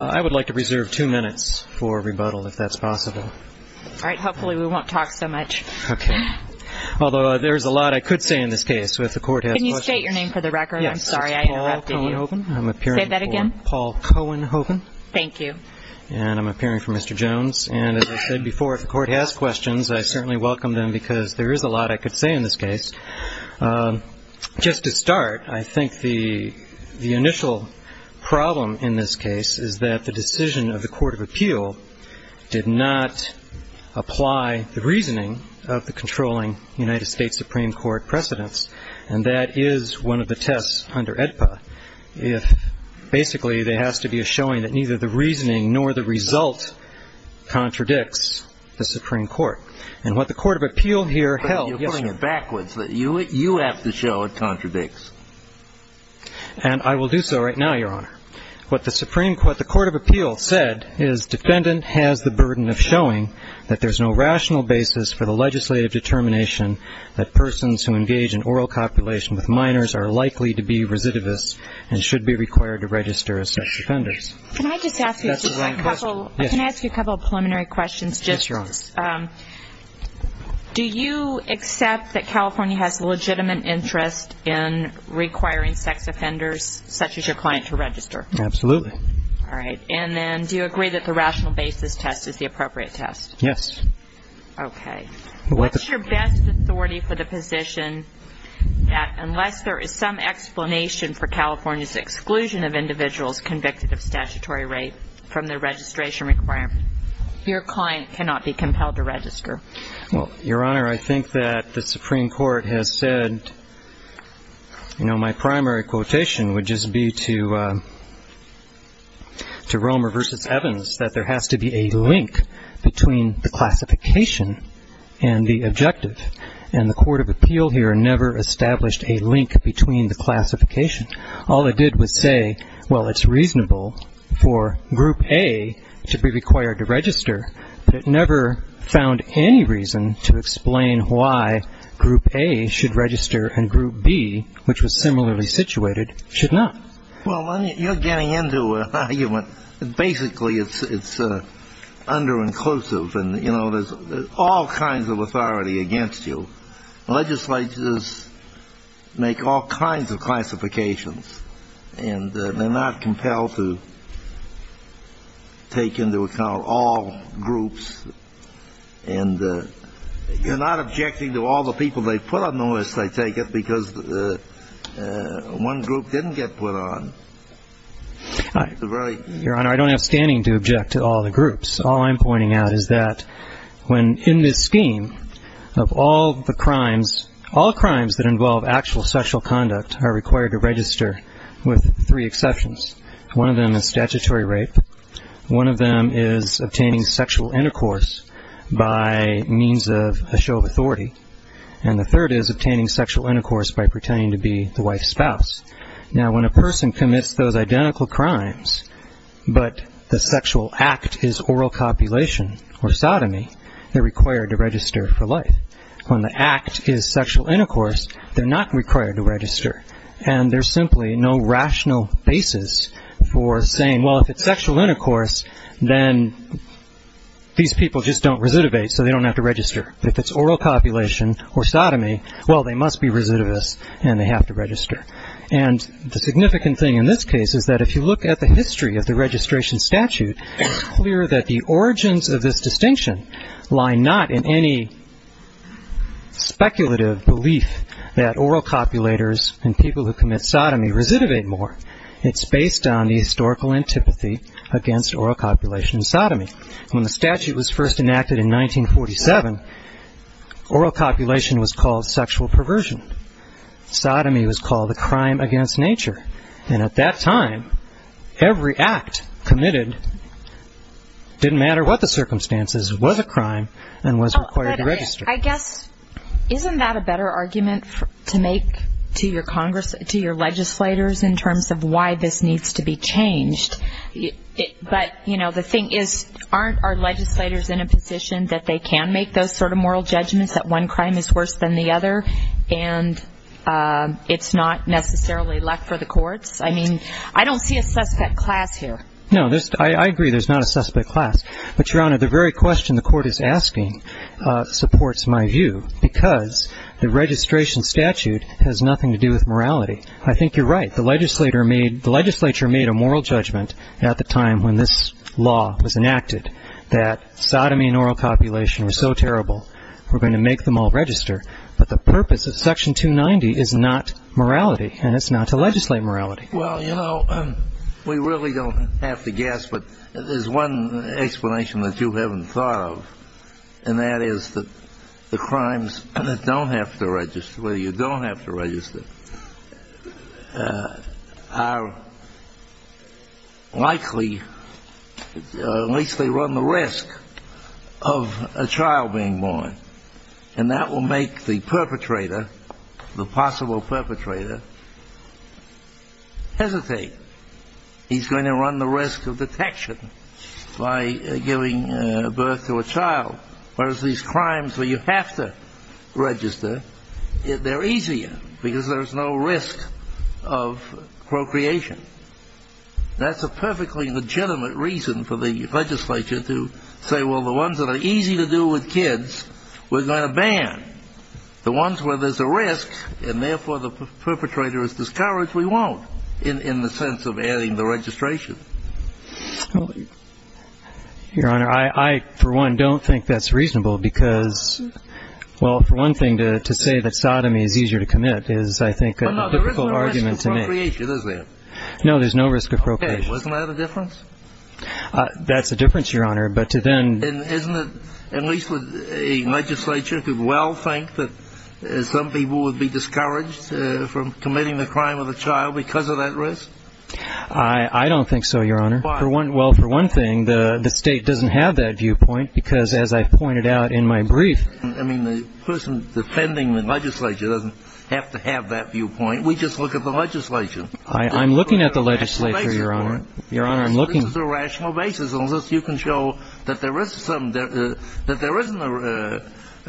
I would like to reserve two minutes for rebuttal, if that's possible. All right. Hopefully we won't talk so much. Okay. Although there's a lot I could say in this case, so if the Court has questions. Can you state your name for the record? I'm sorry I interrupted you. Paul Cohenhoven. I'm appearing for Paul Cohenhoven. Thank you. And I'm appearing for Mr. Jones. And as I said before, if the Court has questions, I certainly welcome them because there is a lot I could say in this case. Just to start, I think the initial problem in this case is that the decision of the Court of Appeal did not apply the reasoning of the controlling United States Supreme Court precedents. And that is one of the tests under AEDPA. If basically there has to be a showing that neither the reasoning nor the result contradicts the Supreme Court. And what the Court of Appeal here held. But you're pulling it backwards. You have to show it contradicts. And I will do so right now, Your Honor. What the Supreme Court, what the Court of Appeal said is defendant has the burden of showing that there's no rational basis for the legislative determination that persons who engage in oral copulation with minors are likely to be recidivists and should be required to register as such defenders. Can I just ask you a couple preliminary questions? Yes, Your Honor. First, do you accept that California has legitimate interest in requiring sex offenders such as your client to register? Absolutely. All right. And then do you agree that the rational basis test is the appropriate test? Yes. Okay. What's your best authority for the position that unless there is some explanation for California's exclusion of individuals convicted of statutory rape from the registration requirement, your client cannot be compelled to register? Well, Your Honor, I think that the Supreme Court has said, you know, my primary quotation would just be to Romer v. Evans that there has to be a link between the classification and the objective. And the Court of Appeal here never established a link between the classification. All it did was say, well, it's reasonable for Group A to be required to register, but it never found any reason to explain why Group A should register and Group B, which was similarly situated, should not. Well, you're getting into an argument. Basically, it's underinclusive, and, you know, there's all kinds of authority against you. Legislators make all kinds of classifications, and they're not compelled to take into account all groups. And you're not objecting to all the people they put on the list, I take it, because one group didn't get put on. Your Honor, I don't have standing to object to all the groups. All I'm pointing out is that when in this scheme of all the crimes, all crimes that involve actual sexual conduct are required to register with three exceptions. One of them is statutory rape. One of them is obtaining sexual intercourse by means of a show of authority. And the third is obtaining sexual intercourse by pretending to be the wife's spouse. Now, when a person commits those identical crimes, but the sexual act is oral copulation or sodomy, they're required to register for life. When the act is sexual intercourse, they're not required to register, and there's simply no rational basis for saying, well, if it's sexual intercourse, then these people just don't recidivate, so they don't have to register. If it's oral copulation or sodomy, well, they must be recidivists, and they have to register. And the significant thing in this case is that if you look at the history of the registration statute, it's clear that the origins of this distinction lie not in any speculative belief that oral copulators and people who commit sodomy recidivate more. It's based on the historical antipathy against oral copulation and sodomy. When the statute was first enacted in 1947, oral copulation was called sexual perversion. Sodomy was called a crime against nature. And at that time, every act committed, didn't matter what the circumstances, was a crime and was required to register. I guess, isn't that a better argument to make to your legislators in terms of why this needs to be changed? But, you know, the thing is, aren't our legislators in a position that they can make those sort of moral judgments that one crime is worse than the other and it's not necessarily luck for the courts? I mean, I don't see a suspect class here. No, I agree there's not a suspect class. But, Your Honor, the very question the court is asking supports my view because the registration statute has nothing to do with morality. I think you're right. The legislature made a moral judgment at the time when this law was enacted that sodomy and oral copulation were so terrible we're going to make them all register. But the purpose of Section 290 is not morality and it's not to legislate morality. Well, you know, we really don't have to guess, but there's one explanation that you haven't thought of, and that is that the crimes that don't have to register, where you don't have to register, are likely, at least they run the risk of a child being born. And that will make the perpetrator, the possible perpetrator, hesitate. He's going to run the risk of detection by giving birth to a child. Whereas these crimes where you have to register, they're easier because there's no risk of procreation. That's a perfectly legitimate reason for the legislature to say, well, the ones that are easy to do with kids, we're going to ban. The ones where there's a risk and, therefore, the perpetrator is discouraged, we won't in the sense of adding the registration. Your Honor, I, for one, don't think that's reasonable because, well, for one thing, to say that sodomy is easier to commit is, I think, a difficult argument to make. Well, no, there isn't a risk of procreation, is there? No, there's no risk of procreation. Okay, wasn't that a difference? That's a difference, Your Honor, but to then- And isn't it, at least a legislature could well think that some people would be discouraged from committing the crime of a child because of that risk? I don't think so, Your Honor. Why? Well, for one thing, the state doesn't have that viewpoint because, as I pointed out in my brief- I mean, the person defending the legislature doesn't have to have that viewpoint. We just look at the legislation. I'm looking at the legislature, Your Honor. This is a rational basis on which you can show that there isn't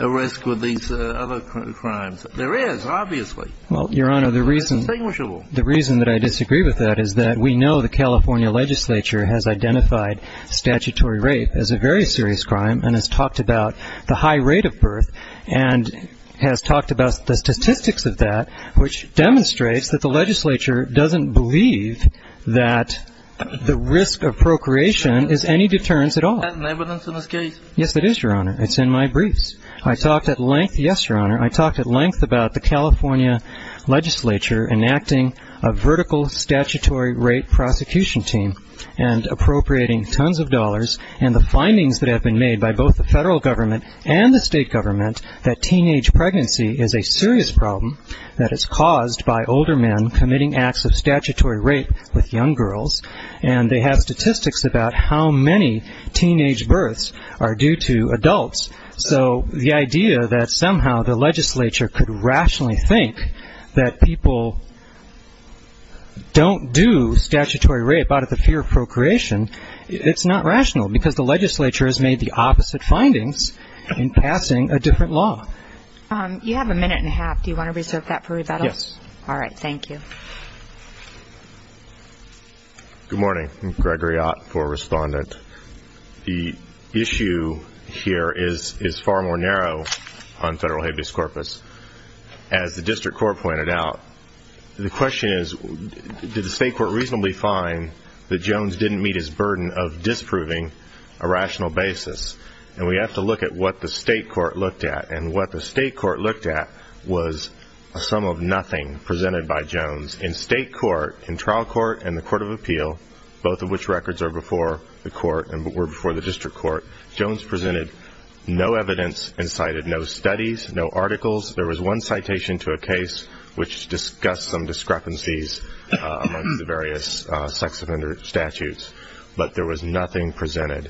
a risk with these other crimes. There is, obviously. Well, Your Honor, the reason- It's distinguishable. The reason that I disagree with that is that we know the California legislature has identified statutory rape as a very serious crime and has talked about the high rate of birth and has talked about the statistics of that, which demonstrates that the legislature doesn't believe that the risk of procreation is any deterrence at all. Isn't that an evidence in this case? Yes, it is, Your Honor. I talked at length- Yes, Your Honor. a vertical statutory rape prosecution team and appropriating tons of dollars and the findings that have been made by both the federal government and the state government that teenage pregnancy is a serious problem, that it's caused by older men committing acts of statutory rape with young girls, and they have statistics about how many teenage births are due to adults. So the idea that somehow the legislature could rationally think that people don't do statutory rape out of the fear of procreation, it's not rational because the legislature has made the opposite findings in passing a different law. You have a minute and a half. Do you want to reserve that for rebuttal? Yes. All right. Thank you. Good morning. I'm Gregory Ott for Respondent. The issue here is far more narrow on federal habeas corpus. As the district court pointed out, the question is, did the state court reasonably find that Jones didn't meet his burden of disproving a rational basis? And we have to look at what the state court looked at, and what the state court looked at was a sum of nothing presented by Jones. In state court, in trial court and the court of appeal, both of which records are before the court and were before the district court, Jones presented no evidence and cited no studies, no articles. There was one citation to a case which discussed some discrepancies among the various sex offender statutes, but there was nothing presented.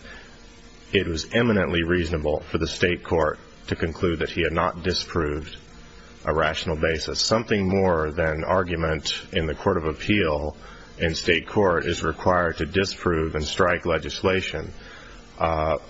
It was eminently reasonable for the state court to conclude that he had not disproved a rational basis. It's something more than argument in the court of appeal, and state court is required to disprove and strike legislation. Our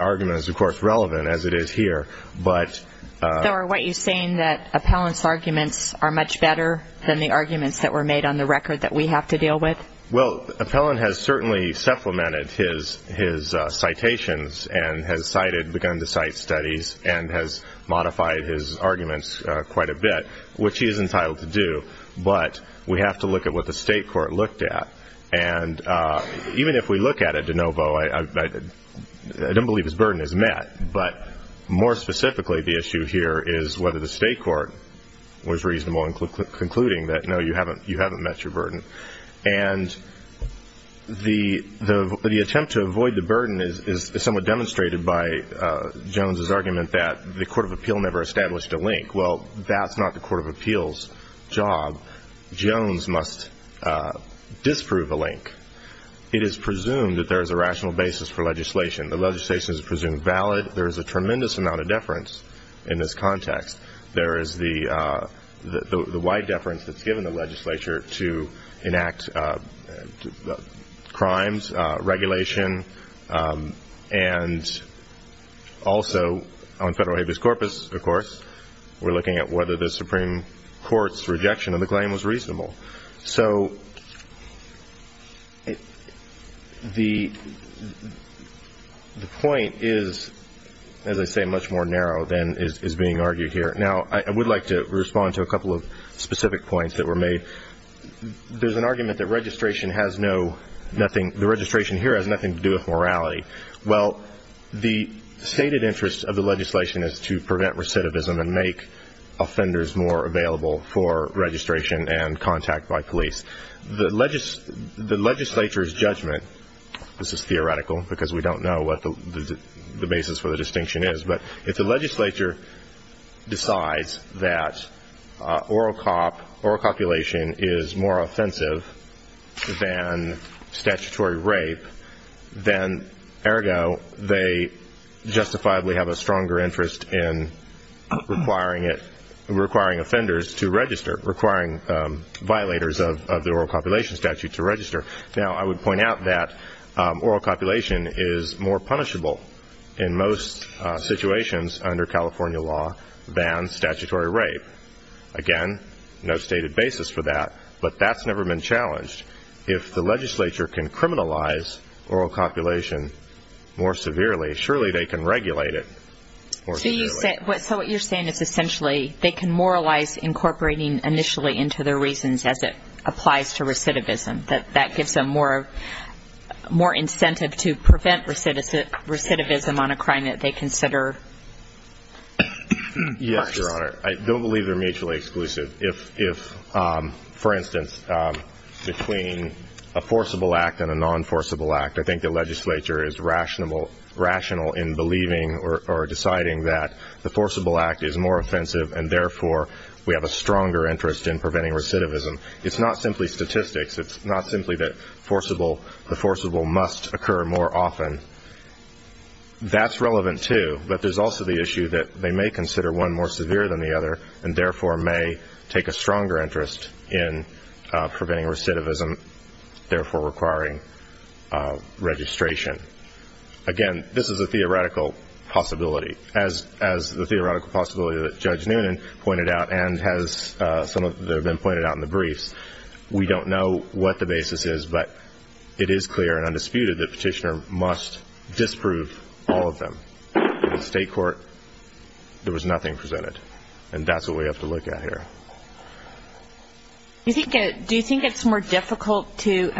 argument is, of course, relevant, as it is here. What you're saying is that Appellant's arguments are much better than the arguments that were made on the record that we have to deal with? Well, Appellant has certainly supplemented his citations and has begun to cite studies and has modified his arguments quite a bit, which he is entitled to do, but we have to look at what the state court looked at. And even if we look at it de novo, I don't believe his burden is met, but more specifically the issue here is whether the state court was reasonable in concluding that, no, you haven't met your burden. And the attempt to avoid the burden is somewhat demonstrated by Jones's argument that the court of appeal never established a link. Well, that's not the court of appeals' job. Jones must disprove a link. It is presumed that there is a rational basis for legislation. The legislation is presumed valid. There is a tremendous amount of deference in this context. There is the wide deference that's given the legislature to enact crimes, regulation, and also on federal habeas corpus, of course, we're looking at whether the Supreme Court's rejection of the claim was reasonable. So the point is, as I say, much more narrow than is being argued here. Now, I would like to respond to a couple of specific points that were made. There's an argument that registration has no – the registration here has nothing to do with morality. Well, the stated interest of the legislation is to prevent recidivism and make offenders more available for registration and contact by police. The legislature's judgment – this is theoretical because we don't know what the basis for the distinction is – if the legislature decides that oral copulation is more offensive than statutory rape, then ergo they justifiably have a stronger interest in requiring offenders to register, requiring violators of the oral copulation statute to register. Now, I would point out that oral copulation is more punishable in most situations under California law than statutory rape. Again, no stated basis for that, but that's never been challenged. If the legislature can criminalize oral copulation more severely, surely they can regulate it more severely. So what you're saying is essentially they can moralize incorporating initially into their reasons as it applies to recidivism, that that gives them more incentive to prevent recidivism on a crime that they consider worse. Yes, Your Honor. I don't believe they're mutually exclusive. If, for instance, between a forcible act and a non-forcible act, I think the legislature is rational in believing or deciding that the forcible act is more offensive and therefore we have a stronger interest in preventing recidivism. It's not simply statistics. It's not simply that the forcible must occur more often. That's relevant too, but there's also the issue that they may consider one more severe than the other and therefore may take a stronger interest in preventing recidivism, therefore requiring registration. Again, this is a theoretical possibility. As the theoretical possibility that Judge Noonan pointed out and has been pointed out in the briefs, we don't know what the basis is, but it is clear and undisputed that Petitioner must disprove all of them. In the state court, there was nothing presented, and that's what we have to look at here. Do you think it's more difficult to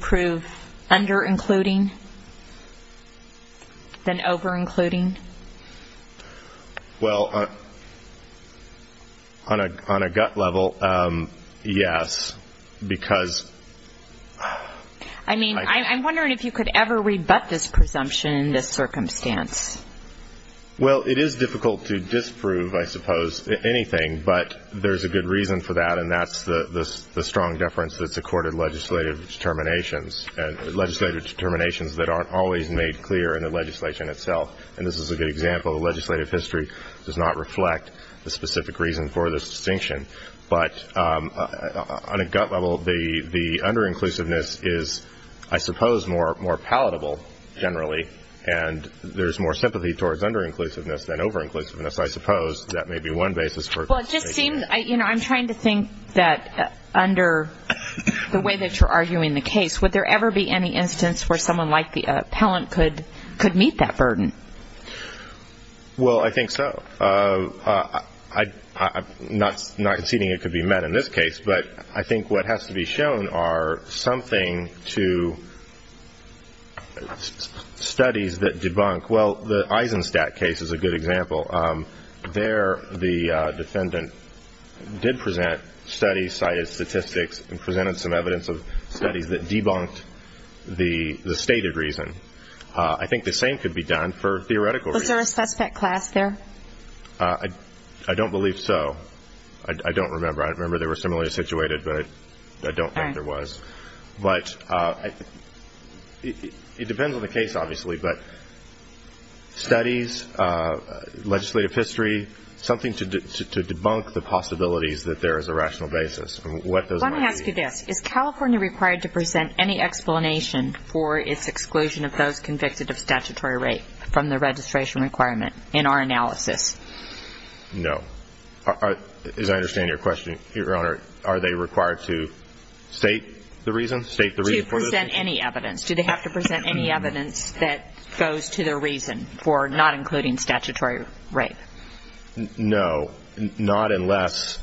prove under-including than over-including? Well, on a gut level, yes, because... I mean, I'm wondering if you could ever rebut this presumption in this circumstance. Well, it is difficult to disprove, I suppose, anything, but there's a good reason for that, and that's the strong deference that's accorded legislative determinations that aren't always made clear in the legislation itself, and this is a good example. The legislative history does not reflect the specific reason for this distinction, but on a gut level, the under-inclusiveness is, I suppose, more palatable generally, and there's more sympathy towards under-inclusiveness than over-inclusiveness, I suppose. That may be one basis for... Well, it just seems, you know, I'm trying to think that under the way that you're arguing the case, would there ever be any instance where someone like the appellant could meet that burden? Well, I think so. I'm not conceding it could be met in this case, but I think what has to be shown are something to studies that debunk. Well, the Eisenstadt case is a good example. There the defendant did present studies, cited statistics, and presented some evidence of studies that debunked the stated reason. I think the same could be done for theoretical reasons. Was there a specific class there? I don't believe so. I don't remember. I remember they were similarly situated, but I don't think there was. But it depends on the case, obviously, but studies, legislative history, something to debunk the possibilities that there is a rational basis. Let me ask you this. Is California required to present any explanation for its exclusion of those convicted of statutory rape from the registration requirement in our analysis? No. As I understand your question, Your Honor, are they required to state the reason? To present any evidence. Do they have to present any evidence that goes to the reason for not including statutory rape? No, not unless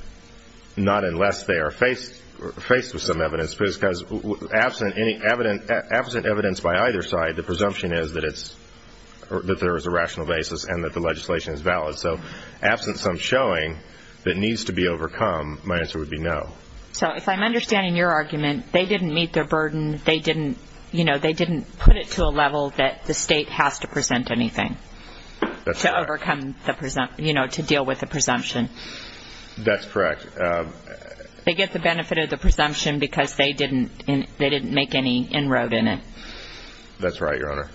they are faced with some evidence, because absent evidence by either side, the presumption is that there is a rational basis and that the legislation is valid. So absent some showing that needs to be overcome, my answer would be no. So if I'm understanding your argument, they didn't meet their burden, they didn't put it to a level that the state has to present anything to overcome the presumption, to deal with the presumption. That's correct. They get the benefit of the presumption because they didn't make any inroad in it. That's right, Your Honor.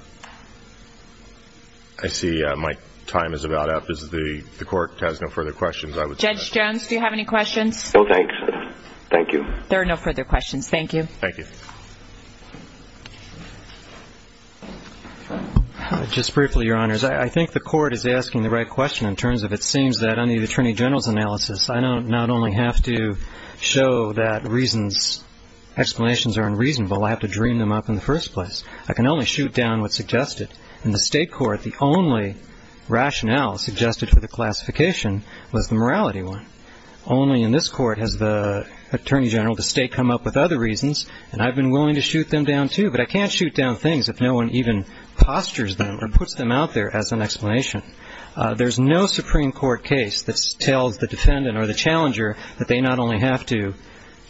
I see my time is about up. If the Court has no further questions, I would say that. Judge Jones, do you have any questions? No, thanks. Thank you. There are no further questions. Thank you. Thank you. Just briefly, Your Honors, I think the Court is asking the right question in terms of it seems that under the Attorney General's analysis, I don't not only have to show that reasons, explanations are unreasonable, I have to dream them up in the first place. I can only shoot down what's suggested. In the state court, the only rationale suggested for the classification was the morality one. Only in this Court has the Attorney General of the state come up with other reasons, and I've been willing to shoot them down, too. But I can't shoot down things if no one even postures them or puts them out there as an explanation. There's no Supreme Court case that tells the defendant or the challenger that they not only have to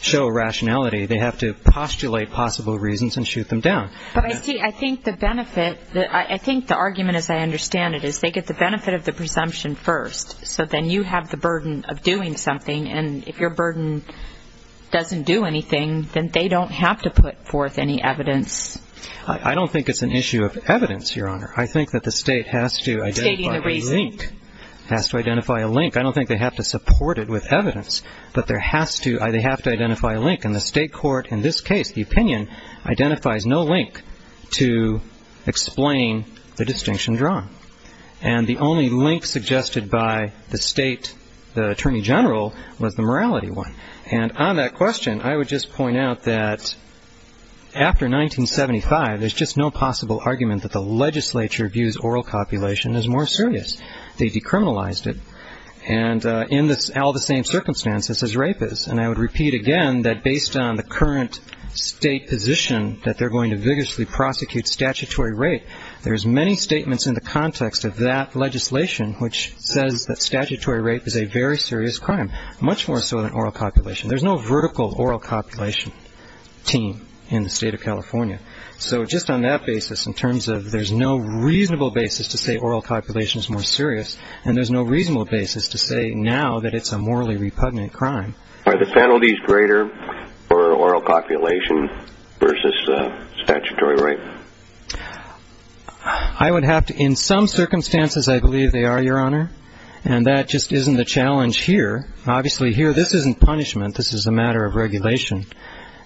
show rationality, they have to postulate possible reasons and shoot them down. But I think the benefit, I think the argument, as I understand it, is they get the benefit of the presumption first, so then you have the burden of doing something, and if your burden doesn't do anything, then they don't have to put forth any evidence. I don't think it's an issue of evidence, Your Honor. I think that the state has to identify a link. It has to identify a link. I don't think they have to support it with evidence, but they have to identify a link. In the state court, in this case, the opinion identifies no link to explain the distinction drawn. And the only link suggested by the state, the attorney general, was the morality one. And on that question, I would just point out that after 1975, there's just no possible argument that the legislature views oral copulation as more serious. They decriminalized it, and in all the same circumstances as rape is. And I would repeat again that based on the current state position that they're going to vigorously prosecute statutory rape, there's many statements in the context of that legislation which says that statutory rape is a very serious crime, much more so than oral copulation. There's no vertical oral copulation team in the state of California. So just on that basis, in terms of there's no reasonable basis to say oral copulation is more serious, and there's no reasonable basis to say now that it's a morally repugnant crime. Are the penalties greater for oral copulation versus statutory rape? I would have to, in some circumstances I believe they are, Your Honor. And that just isn't the challenge here. Obviously here this isn't punishment. This is a matter of regulation.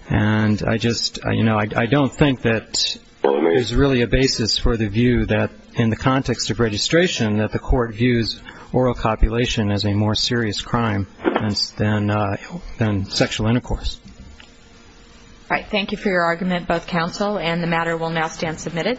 And I just, you know, I don't think that there's really a basis for the view that in the context of registration that the court views oral copulation as a more serious crime than sexual intercourse. All right. Thank you for your argument, both counsel, and the matter will now stand submitted.